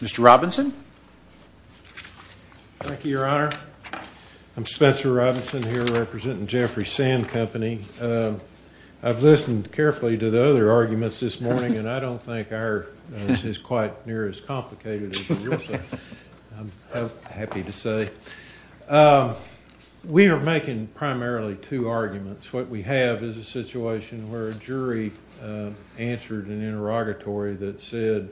Mr. Robinson. Thank you, your honor. I'm Spencer Robinson here representing Jeffrey Sand Company. I've listened carefully to the other arguments this morning and I don't think ours is quite near as complicated as yours. I'm happy to say. We are making primarily two arguments. What we have is a situation where a jury answered an interrogatory that said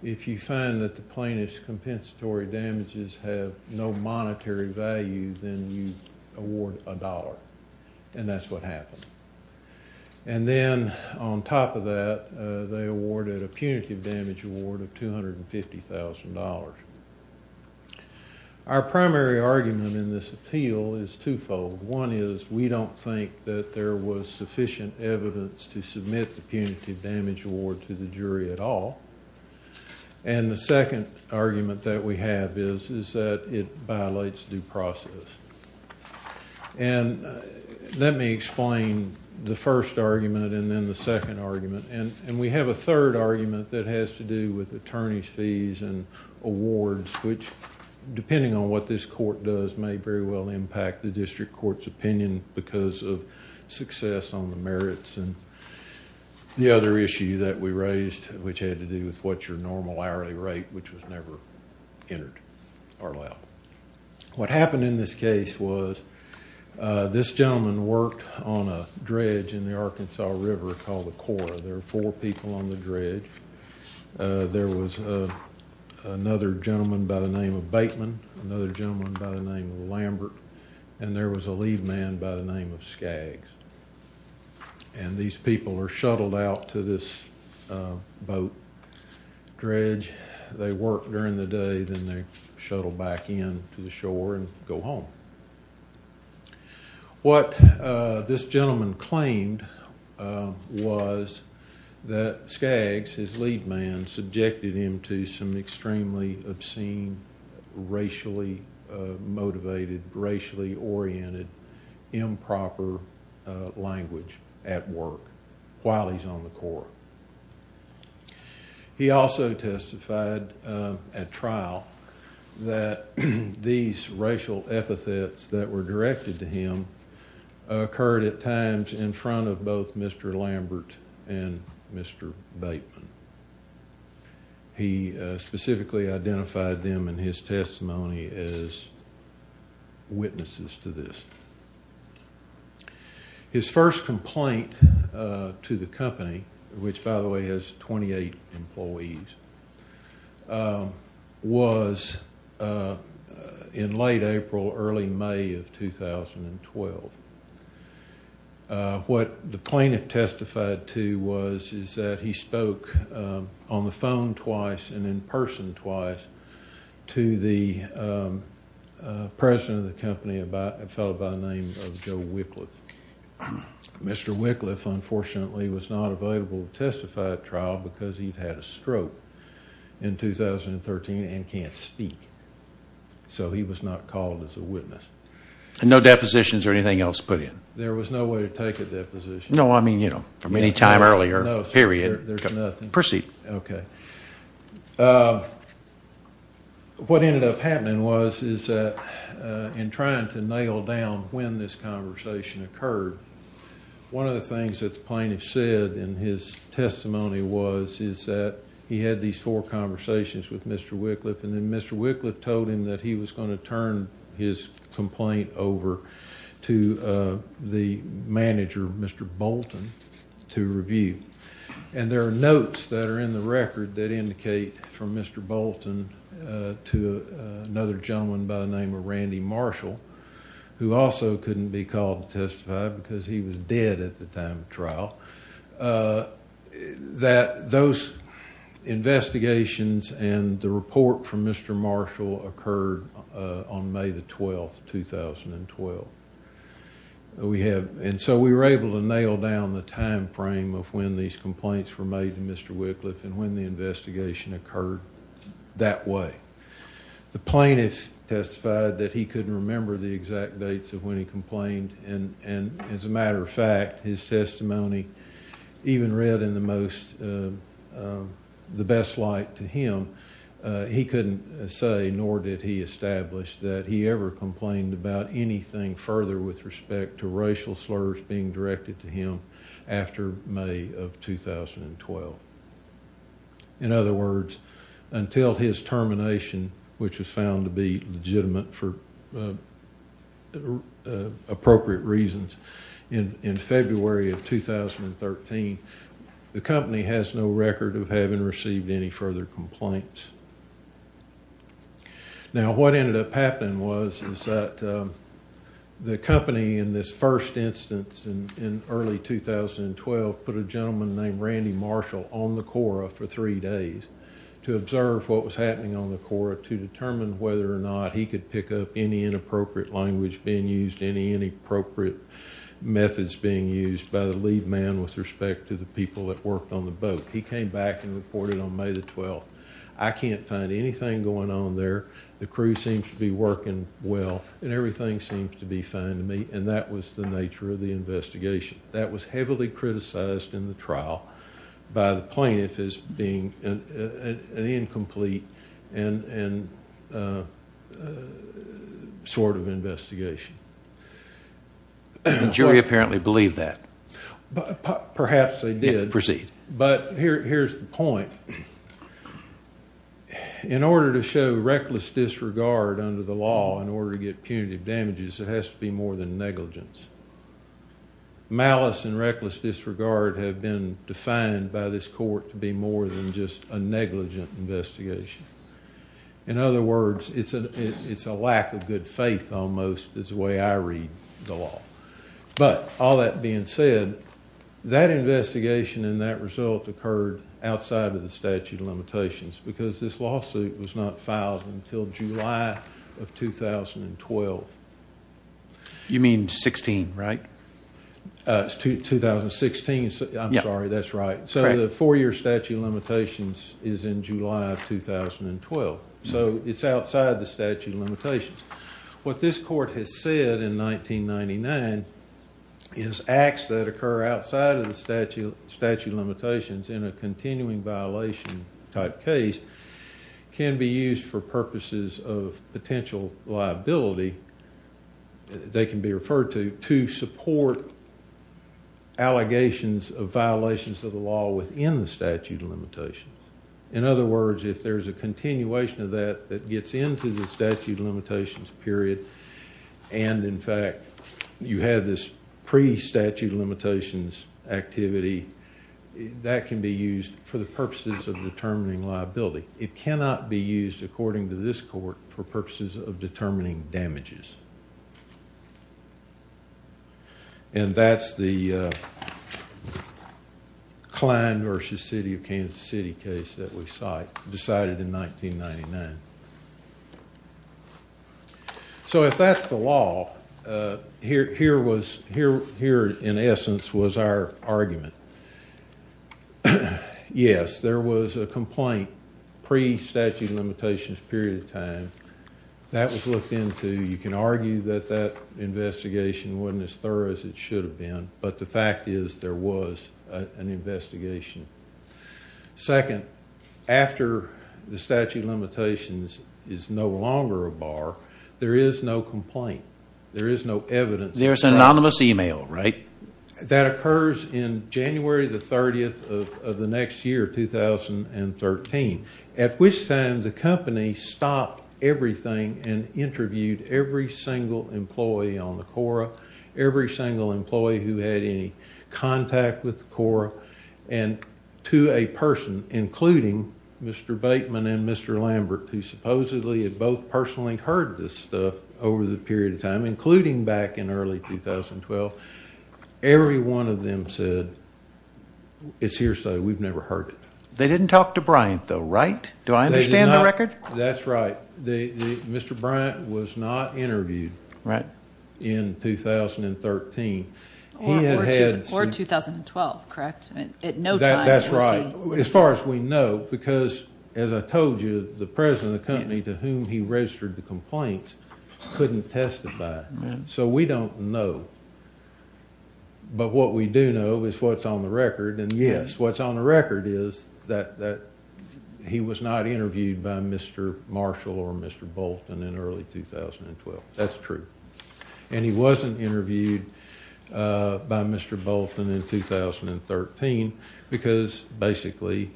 if you find that the plaintiff's compensatory damages have no monetary value then you award a dollar and that's what happened. And then on top of that they awarded a punitive damage award of $250,000. Our primary argument in this appeal is twofold. One is we don't think that there was sufficient evidence to submit the punitive damage award to the jury at all. And the second argument that we have is is that it violates due process. And let me explain the first argument and then the second argument. And we have a third argument that has to do with attorney's fees and awards which, depending on what this court does, may very well impact the district court's opinion because of success on the merits. And the other issue that we raised, which had to do with what's your normal hourly rate, which was never entered or allowed. What happened in this case was this gentleman worked on a dredge in the Arkansas River called the Cora. There were four people on the dredge. There was another gentleman by the name of Bateman, another gentleman by the name of Lambert, and there was a lead man by the name of Skaggs. And these people are shuttled out to this boat dredge. They work during the day, then they shuttle back in to the shore and go home. What this gentleman claimed was that Skaggs, his lead man, subjected him to some extremely obscene, racially motivated, racially oriented, improper language at work while he's on the Cora. He also testified at trial that these racial epithets that were directed to him occurred at times in front of both Mr. Lambert and Mr. Bateman. He specifically identified them in his testimony as witnesses to this. His first complaint to the company, which by the way has 28 employees, was in late April, early May of 2012. What the plaintiff testified to was is that he spoke on the in-person twice to the president of the company, a fellow by the name of Joe Wickliffe. Mr. Wickliffe, unfortunately, was not available to testify at trial because he'd had a stroke in 2013 and can't speak. So he was not called as a witness. And no depositions or anything else put in? There was no way to take a deposition. No, I mean, you know, from any time earlier, period. Proceed. Okay. What ended up happening was is that in trying to nail down when this conversation occurred, one of the things that the plaintiff said in his testimony was is that he had these four conversations with Mr. Wickliffe and then Mr. Wickliffe told him that he was going to turn his complaint over to the plaintiff, Mr. Bolton, to review. And there are notes that are in the record that indicate from Mr. Bolton to another gentleman by the name of Randy Marshall, who also couldn't be called to testify because he was dead at the time of trial, that those investigations and the report from Mr. Marshall occurred on May the nail down the time frame of when these complaints were made to Mr. Wickliffe and when the investigation occurred that way. The plaintiff testified that he couldn't remember the exact dates of when he complained and as a matter of fact, his testimony even read in the most the best light to him, he couldn't say nor did he establish that he ever complained about anything further with respect to racial slurs being directed to him after May of 2012. In other words, until his termination, which was found to be legitimate for appropriate reasons, in February of 2013, the company has no record of having received any further complaints. Now what ended up happening was that the company in this first instance in early 2012 put a gentleman named Randy Marshall on the Quora for three days to observe what was happening on the Quora to determine whether or not he could pick up any inappropriate language being used, any inappropriate methods being used by the lead man with respect to the people that worked on the back and reported on May the 12th. I can't find anything going on there. The crew seems to be working well and everything seems to be fine to me and that was the nature of the investigation. That was heavily criticized in the trial by the plaintiff as being an incomplete and sort of investigation. The jury apparently believed that. Perhaps they did. Proceed. But here's the point. In order to show reckless disregard under the law in order to get punitive damages, it has to be more than negligence. Malice and reckless disregard have been defined by this court to be more than just a negligent investigation. In other words, it's a lack of good faith almost is the way I read the law. But all that being said, that investigation and that result occurred outside of the statute of limitations because this lawsuit was not filed until July of 2012. You mean 2016, right? 2016. I'm sorry, that's right. So the four-year statute of limitations is in July of 2012. So it's outside the statute of limitations. What this court has said in 1999 is acts that occur outside of the statute of limitations in a continuing violation type case can be used for purposes of potential liability. They can be referred to to support allegations of violations of the law within the statute of limitations. In other words, if there's a continuation of that that gets into the statute of limitations period and in fact you have this pre-statute of limitations activity, that can be used for the purposes of determining liability. It cannot be used according to this court for purposes of determining damages. And that's the Kline versus City of Kansas City case that we decided in 1999. So if that's the law, here in essence was our argument. Yes, there was a statute of limitations period of time. That was looked into. You can argue that that investigation wasn't as thorough as it should have been, but the fact is there was an investigation. Second, after the statute of limitations is no longer a bar, there is no complaint. There is no evidence. There's an anomalous email, right? That occurs in January the 30th of the next year, 2013, at which time the company stopped everything and interviewed every single employee on the CORA, every single employee who had any contact with the CORA, and to a person including Mr. Bateman and Mr. Lambert, who supposedly had both personally heard this stuff over the period of time, including back in early 2012, every one of them said, it's here so we've never heard it. They didn't talk to Bryant though, right? Do I understand the record? That's right. Mr. Bryant was not interviewed in 2013. Or 2012, correct? That's right. As far as we know, because as I told you, the president of the company to whom he registered the complaint couldn't testify. So we don't know, but what we do know is what's on the record, and yes, what's on the record is that he was not interviewed by Mr. Marshall or Mr. Bolton in early 2012. That's true. And he wasn't interviewed by Mr. Bolton in 2013 because basically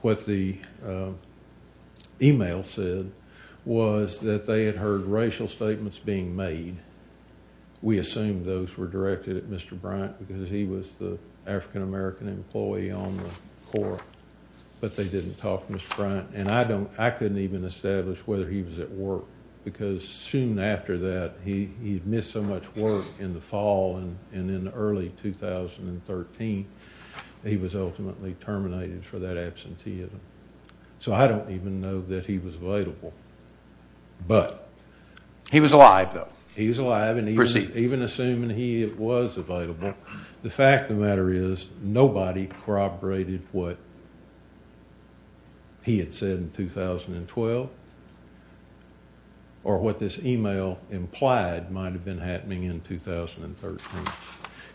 what the email said was that they had heard racial statements being made. We assume those were directed at Mr. Bryant because he was the African-American employee on the Corps, but they didn't talk to Mr. Bryant. And I couldn't even establish whether he was at work because soon after that, he'd missed so much work in the fall and in early 2013 he was ultimately terminated for that absenteeism. So I don't even know that he was available. He was alive though. He was alive and even assuming he was available. The fact of the matter is nobody corroborated what he had said in 2012 or what this email implied might have been happening in 2013.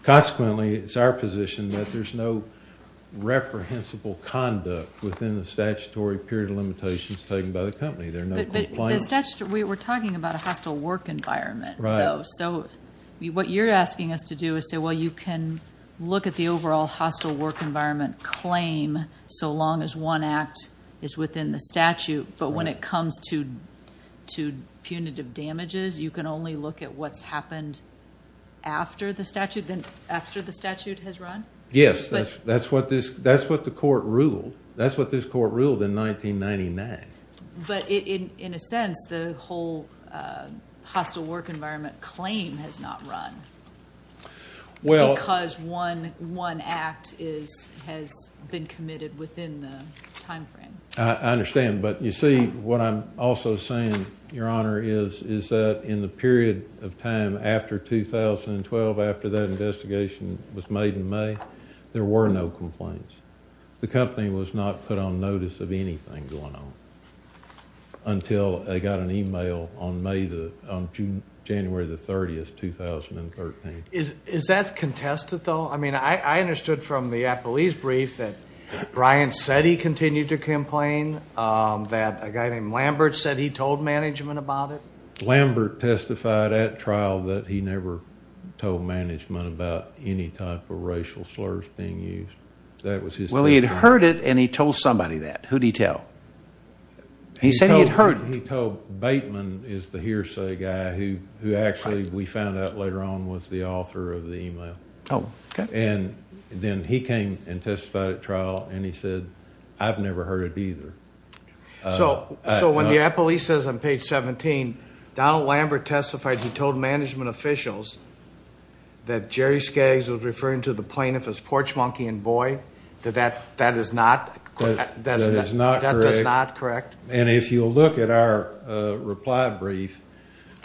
Consequently, it's our position that there's no reprehensible conduct within the statutory period of limitations taken by the company. There are no complaints. We were talking about a hostile work environment though, so what you're asking us to do is say, well, you can look at the overall hostile work environment claim so long as one act is within the statute, but when it comes to punitive damages, you can only look at what's happened after the statute has run? Yes. That's what the court ruled. That's what this court ruled in 1999. But in a sense, the whole hostile work environment claim has not run because one act has been committed within the time frame. I understand, but you see what I'm also saying, Your Honor, is that in the period of time after 2012, after that investigation was made in May, there were no complaints. The company was not put on notice of anything going on until they got an email on January 30, 2013. Is that contested though? I mean, I understood from the Appleese brief that Bryan said he continued to complain, that a guy named Lambert said he told management about it. Lambert testified at trial that he never told management about any type of racial slurs being used. That was his somebody that. Who did he tell? He said he'd heard. He told Bateman, is the hearsay guy, who actually we found out later on was the author of the email, and then he came and testified at trial and he said, I've never heard it either. So when the Appleese says on page 17, Donald Lambert testified he told management officials that Jerry Skaggs was referring to the plaintiff as porch monkey and boy, that is not correct. And if you look at our reply brief,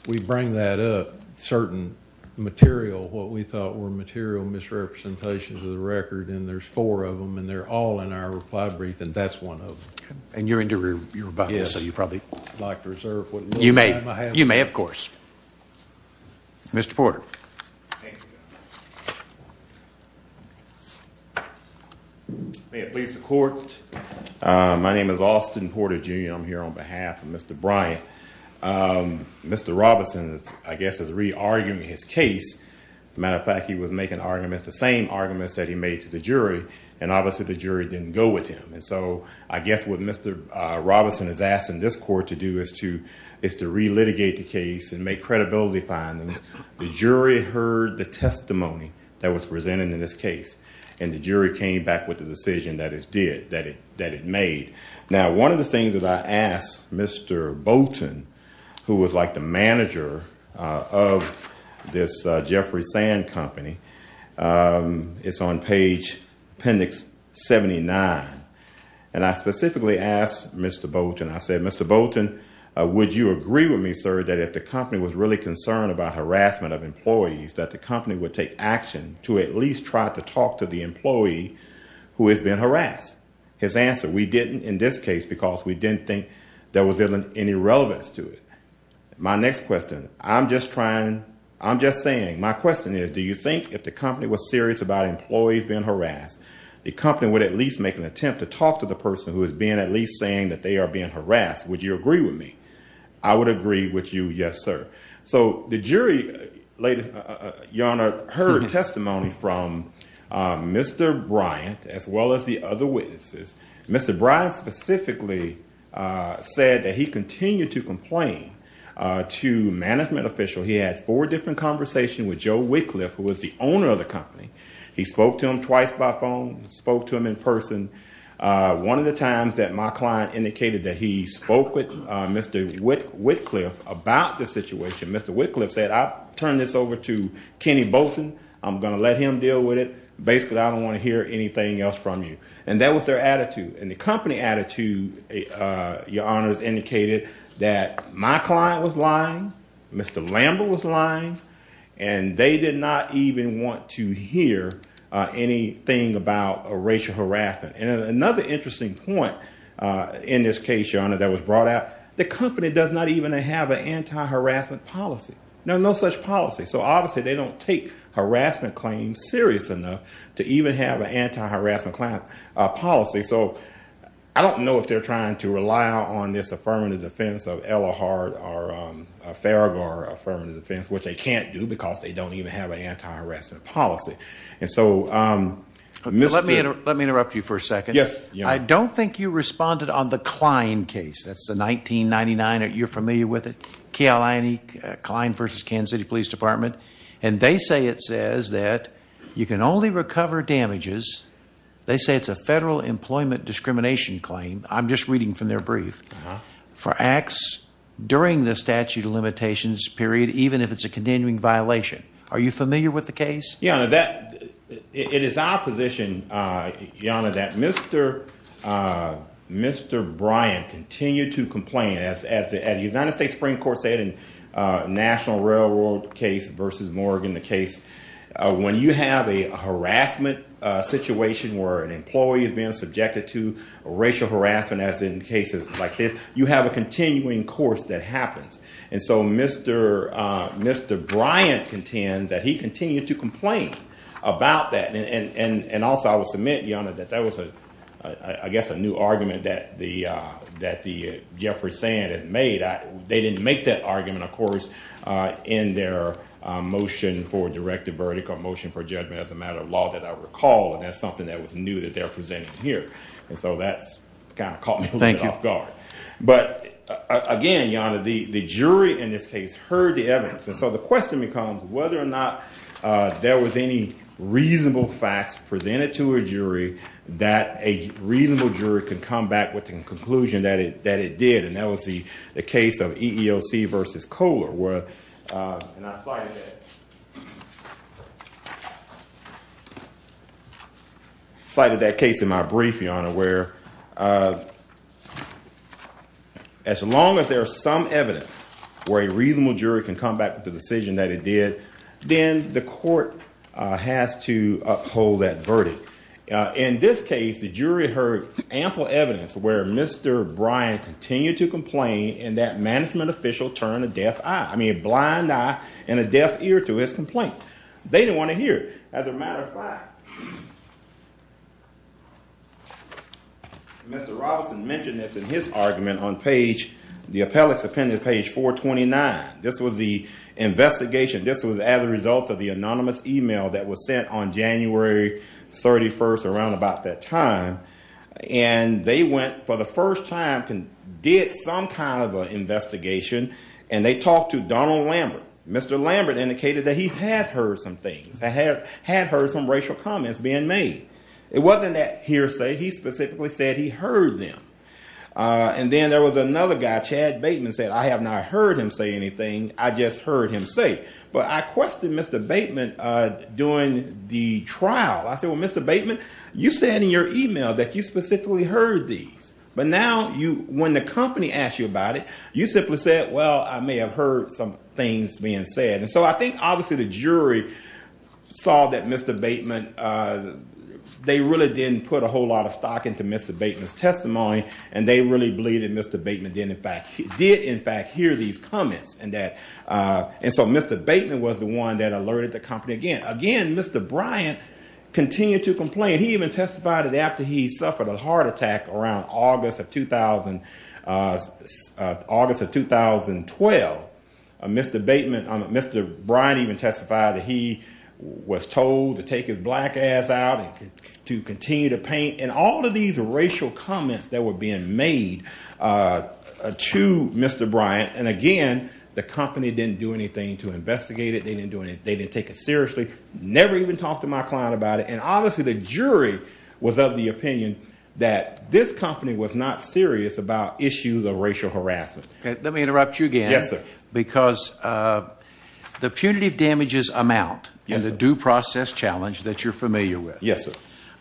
we bring that up, certain material, what we thought were material misrepresentations of the record, and there's four of them, and they're all in our reply brief, and that's one of them. And you're into your rebuttal, so you probably would like to reserve what little time I have. You may, of course. Mr. Porter. May it please the court. My name is Austin Porter, Jr. I'm here on behalf of Mr. Bryant. Mr. Robinson, I guess, is re-arguing his case. As a matter of fact, he was making arguments, the same arguments that he made to the jury, and obviously the jury didn't go with him. And so I guess what Mr. Robinson is asking this court to do is to re-litigate the case and make credibility findings. The jury heard the testimony that was presented in this case, and the jury came back with the decision that it made. Now, one of the things that I asked Mr. Bolton, who was like the manager of this Jeffrey Sand Company, it's on page appendix 79, and I specifically asked Mr. Bolton, I said, Mr. Bolton, would you agree with me, sir, that if the company was really concerned about harassment of employees, that the employees being harassed? His answer, we didn't in this case because we didn't think there was any relevance to it. My next question, I'm just trying, I'm just saying, my question is, do you think if the company was serious about employees being harassed, the company would at least make an attempt to talk to the person who has been at least saying that they are being harassed? Would you agree with me? I would agree with you, yes, sir. So the jury, Your Honor, heard testimony from Mr. Bryant, as well as the other witnesses. Mr. Bryant specifically said that he continued to complain to management official. He had four different conversations with Joe Wycliffe, who was the owner of the company. He spoke to him twice by phone, spoke to him in person. One of the times that my client indicated that he spoke with Mr. Wycliffe about the I'm gonna let him deal with it. Basically, I don't want to hear anything else from you. And that was their attitude. And the company attitude, Your Honor, has indicated that my client was lying, Mr. Lambert was lying, and they did not even want to hear anything about a racial harassment. And another interesting point in this case, Your Honor, that was brought out, the company does not even have an anti-harassment policy. No, no such policy. So obviously they don't take harassment claims serious enough to even have an anti-harassment client policy. So I don't know if they're trying to rely on this affirmative defense of Elahard or Farraghar affirmative defense, which they can't do because they don't even have an anti-harassment policy. And so, Mr. Let me interrupt you for a second. Yes, Your Honor. I don't think you responded on the Klein case. That's the 1999, you're familiar with it, E.L. Klein v. Kansas City Police Department, and they say it says that you can only recover damages, they say it's a federal employment discrimination claim, I'm just reading from their brief, for acts during the statute of limitations period, even if it's a continuing violation. Are you familiar with the case? Yeah, that, it is our position, Your Honor, that Mr. Brian continued to complain about that, and also I will submit, Your Honor, that that was, I guess, a new argument that the Jeffrey Sand has made. They didn't make that argument, of course, in their motion for directive verdict or motion for judgment as a matter of law that I recall, and that's something that was new that they're presenting here. And so that's kind of caught me off guard. But again, Your Honor, the jury in this case heard the evidence, and so the question becomes whether or not there was any reasonable facts presented to a jury that a reasonable jury could come back with the conclusion that it did, and that was the case of EEOC versus Kohler. And I cited that case in my brief, Your Honor, where as long as there is some evidence where a reasonable jury can come back with the decision that it did, then the court has to uphold that verdict. In this case, Mr. Robinson mentioned this in his argument on the appellate's opinion page 429. This was the investigation, this was as a result of the anonymous email that was sent on January 31st, around about that time, and they went for the first time, did some kind of an investigation, and they talked to Donald Lambert. Mr. Lambert indicated that he had heard some things, had heard some racial comments being made. It wasn't that hearsay, he specifically said he heard them. And then there was another guy, Chad Bateman, said, I have not heard him say anything, I just heard him say. But I questioned Mr. Bateman during the trial. I said, well, Mr. Bateman, you said in your email that you specifically heard these. But now, when the company asked you about it, you simply said, well, I may have heard some things being said. And so I think, obviously, the jury saw that Mr. Bateman, they really didn't put a whole lot of stock into Mr. Bateman's testimony, and they really believed that Mr. Bateman did, in fact, hear these comments. And so Mr. Bateman was the one that alerted the company again. Again, Mr. Bryant continued to complain. He even testified that after he suffered a heart attack around August of 2012, Mr. Bryant even testified that he was told to take his black ass out and to continue to paint. And all of these racial comments that were being made to Mr. Bryant, and again, the company didn't do anything to investigate it, they didn't take it seriously, never even talked to my client about it. And honestly, the jury was of the opinion that this company was not serious about issues of racial harassment. Let me interrupt you again. Yes, sir. Because the punitive damages amount and the due process challenge that you're familiar with. Yes, sir.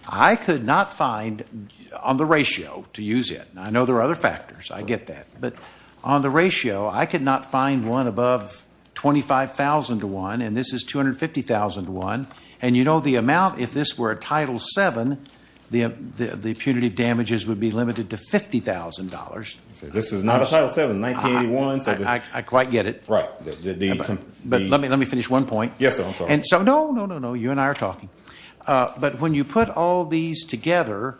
I could not find on the ratio to use it. I know there are other factors, I get that. But on the ratio, I could not find one above $25,000 to one, and this is $250,000 to one. And you know the amount, if this were a Title VII, the punitive damages would be limited to $50,000. This is not a Title VII, 1981. I quite get it. Right. But let me finish one point. Yes, sir. I'm sorry. And so, no, no, no, no, you and I are talking. But when you put all these together,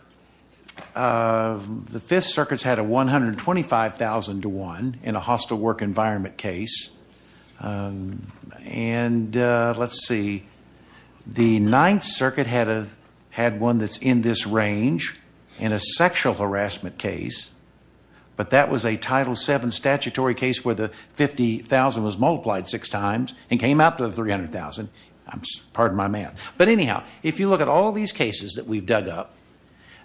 the Fifth Circuit's had a $125,000 to one in a hostile work environment case. And let's see, the Ninth Circuit had one that's in this range in a sexual harassment case, but that was a Title VII statutory case where the $50,000 was multiplied six times and came out to the $300,000. I'm sorry, pardon my math. But anyhow, if you look at all these cases that we've dug up,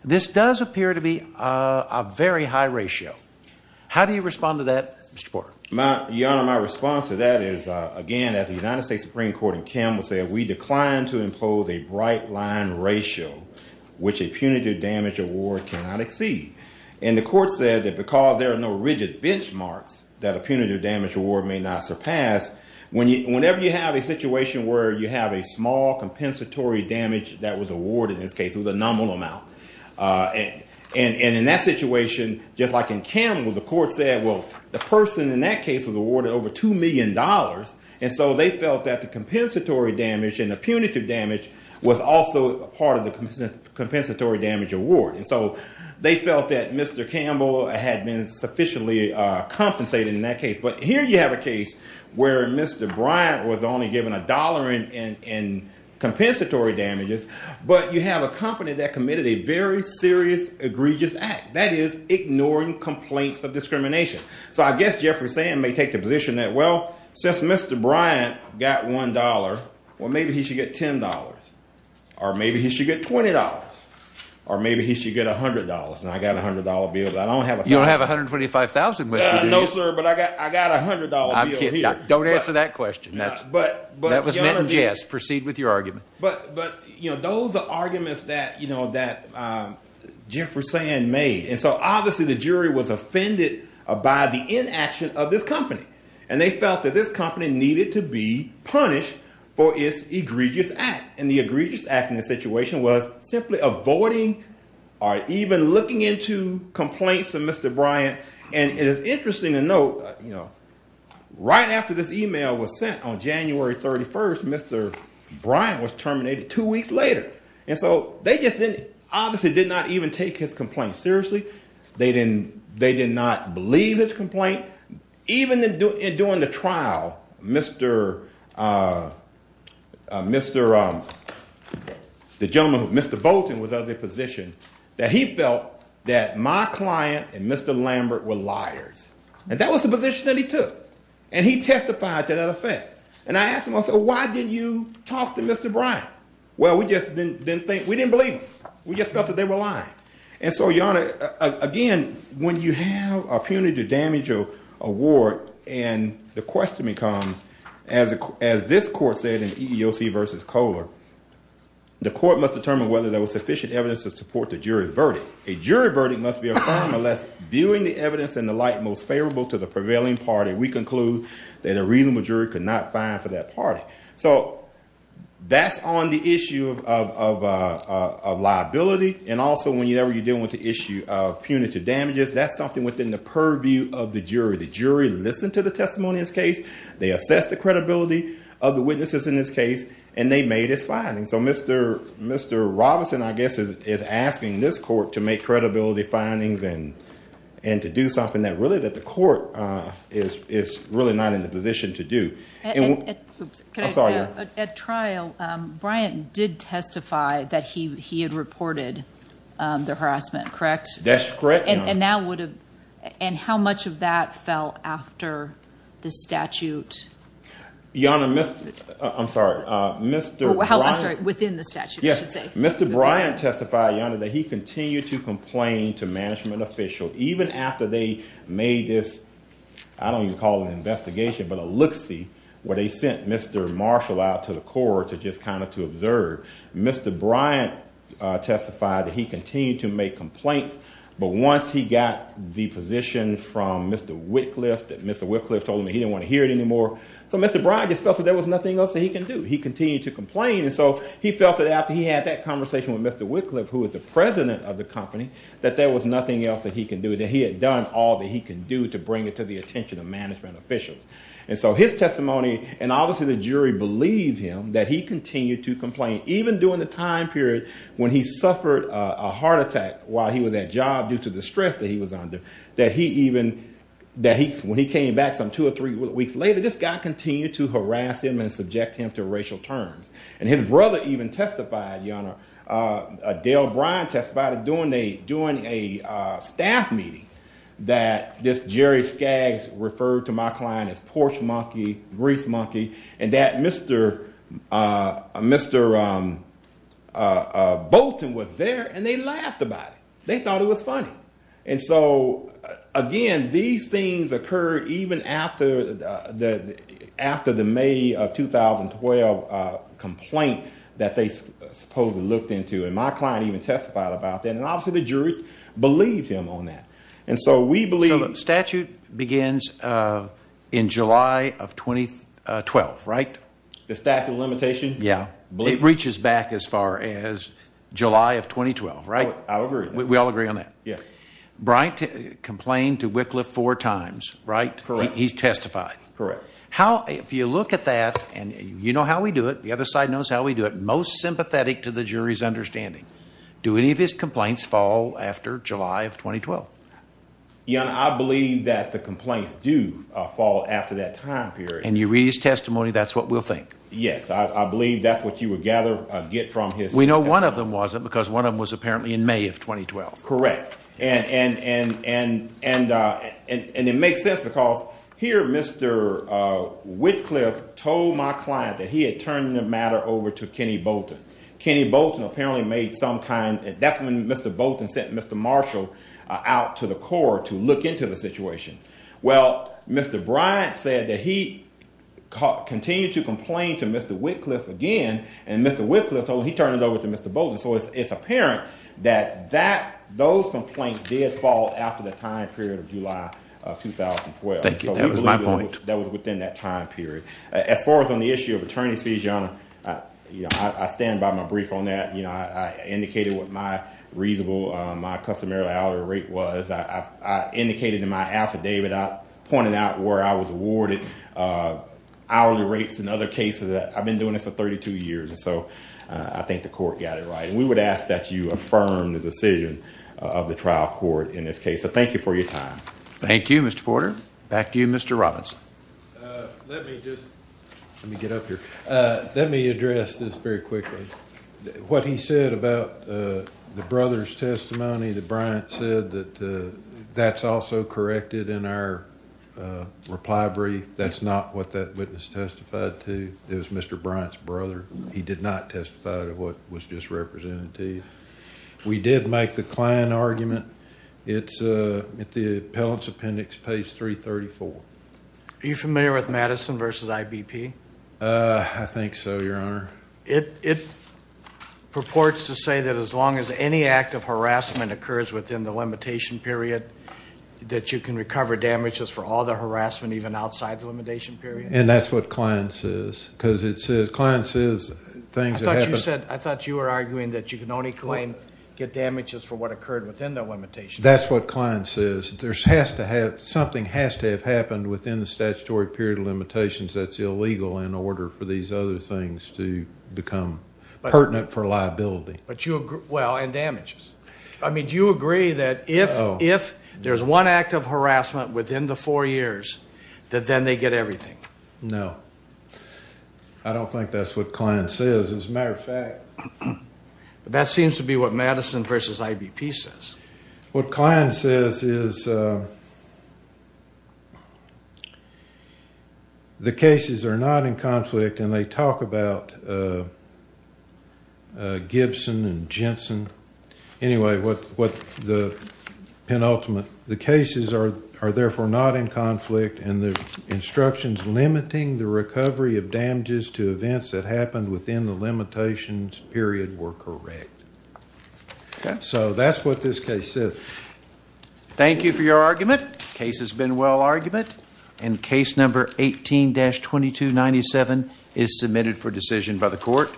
this does appear to be a very high ratio. How do you respond to that, Mr. Porter? Your Honor, my response to that is, again, as the United States Supreme Court in Kim said, we declined to impose a bright line ratio which a punitive damage award cannot exceed. And the court said that because there are no rigid benchmarks that a punitive damage award may not surpass, whenever you have a situation where you have a small compensatory damage that was awarded in this case, it was a nominal amount, and in that situation, just like in Campbell, the court said, well, the person in that case was awarded over $2 million, and so they felt that the compensatory damage and the punitive damage was also a part of the compensatory damage award. And so, they felt that Mr. Campbell had been sufficiently compensated in that case. But here you have a case where Mr. Bryant was only given $1 in compensatory damages, but you have a company that committed a very serious, egregious act. That is ignoring complaints of discrimination. So, I guess Jeffrey Sand may take the position that, well, since Mr. Bryant got $1, well, maybe he should get $10, or maybe he should get $20, or maybe he should get $100. And I got a $100 bill, but I don't have a $100. No, sir, but I got a $100 bill here. Don't answer that question. That was meant in jest. Proceed with your argument. But, you know, those are arguments that, you know, that Jeffrey Sand made. And so, obviously, the jury was offended by the inaction of this company, and they felt that this company needed to be punished for its egregious act. And the egregious act in this situation was simply avoiding or even looking into complaints of Mr. Bryant. And it is interesting to note, you know, right after this email was sent on January 31st, Mr. Bryant was terminated two weeks later. And so, they just didn't, obviously, did not even take his complaint seriously. They did not believe his complaint. Even during the trial, Mr. Bolton was of the position that he felt that Mr. Bryant was lying, that my client and Mr. Lambert were liars. And that was the position that he took. And he testified to that effect. And I asked him, I said, why didn't you talk to Mr. Bryant? Well, we just didn't think, we didn't believe him. We just felt that they were lying. And so, Your Honor, again, when you have a punitive damage award, and the question becomes, as this court said in EEOC v. Kohler, the court must determine whether there was sufficient evidence to support the jury verdict. A jury verdict must be affirmed unless viewing the evidence in the light most favorable to the prevailing party, we conclude that a reasonable jury could not find for that party. So, that's on the issue of liability. And also, whenever you're dealing with the issue of punitive damages, that's something within the purview of the jury. The jury listened to the testimony in this case. They assessed the credibility of the witnesses in this case. And they made its findings. So, Mr. Robinson, I guess, is asking this court to make credibility findings and to do something that really, that the court is really not in the position to do. At trial, Bryant did testify that he had reported the harassment, correct? That's correct, Your Honor. And now would have, and how much of that fell after the statute? Your Honor, Mr., I'm sorry, Mr. Bryant. I'm sorry, within the statute, I should say. Yes, Mr. Bryant testified, Your Honor, that he continued to complain to management officials, even after they made this, I don't even call it an investigation, but a look-see, where they sent Mr. Marshall out to the court to just kind of to observe. Mr. Bryant testified that he continued to make complaints, but once he got the position from Mr. Whitcliffe, that Mr. Bryant just felt that there was nothing else that he could do. He continued to complain, and so he felt that after he had that conversation with Mr. Whitcliffe, who was the president of the company, that there was nothing else that he could do, that he had done all that he could do to bring it to the attention of management officials. And so his testimony, and obviously the jury believed him, that he continued to complain, even during the time period when he suffered a heart attack while he was at job due to the stress that he was under, that he even, that when he came back some two or three weeks later, this guy continued to harass him and subject him to racial terms. And his brother even testified, Your Honor, Dale Bryant testified during a staff meeting that this Jerry Skaggs referred to my client as porch monkey, grease monkey, and that Mr. Bolton was there, and they laughed about it. They thought it was funny. And so, again, these things occurred even after the May of 2012 complaint that they supposedly looked into. And my client even testified about that. And obviously the jury believed him on that. And so we believe... So the statute begins in July of 2012, right? The statute of limitation? Yeah. It reaches back as far as July of 2012, right? I agree. We all agree on that. Yeah. Bryant complained to Wycliffe four times, right? Correct. He testified. Correct. How, if you look at that, and you know how we do it, the other side knows how we do it, most sympathetic to the jury's understanding, do any of his complaints fall after July of 2012? Your Honor, I believe that the complaints do fall after that time period. And you read his testimony, that's what we'll think? Yes. I believe that's what you would gather, get from his testimony. We know one of them wasn't because one of them was apparently in May of 2012. Correct. And it makes sense because here Mr. Wycliffe told my client that he had turned the matter over to Kenny Bolton. Kenny Bolton apparently made some kind... That's when Mr. Bolton sent Mr. Marshall out to the court to look into the situation. Well, Mr. Bryant said that he continued to complain to Mr. Wycliffe again, and Mr. Wycliffe told him he turned it over to Mr. Bolton. So it's apparent that those complaints did fall after the time period of July of 2012. Thank you. That was my point. That was within that time period. As far as on the issue of attorney's fees, Your Honor, I stand by my brief on that. I indicated what my reasonable, my customary hourly rate was. I indicated in my affidavit, I pointed out where I was awarded hourly rates in other cases. I've been doing this for 32 years. And so I think the court got it right. And we would ask that you affirm the decision of the trial court in this case. So thank you for your time. Thank you, Mr. Porter. Back to you, Mr. Robinson. Let me just... Let me get up here. Let me address this very quickly. What he said about the brother's testimony, that Bryant said that that's also corrected in our reply brief. That's not what that witness testified to. It was Mr. Bryant's brother. He did not testify to what was just represented to you. We did make the Klein argument. It's at the appellant's appendix, page 334. Are you familiar with Madison v. IBP? I think so, Your Honor. It purports to say that as long as any act of harassment occurs within the limitation period, that you can recover damages for all the harassment even outside the limitation period? And that's what Klein says. Because it says... Klein says things that happen... I thought you said... I thought you were arguing that you can only claim, get damages for what occurred within the limitation period. That's what Klein says. There has to have... Something has to have happened within the statutory period of limitations that's illegal in order for these other things to become pertinent for liability. But you... Well, and damages. I mean, do you agree that if there's one act of harassment within the four years, that then they get everything? No. I don't think that's what Klein says. As a matter of fact... That seems to be what Madison v. IBP says. What Klein says is... The cases are not in conflict and they talk about Gibson and Jensen. Anyway, what the penultimate... The cases are therefore not in conflict and the instructions limiting the recovery of damages to events that happened within the limitations period were correct. Okay. So, that's what this case says. Thank you for your argument. The case has been well-argumented. And case number 18-2297 is submitted for decision by the court.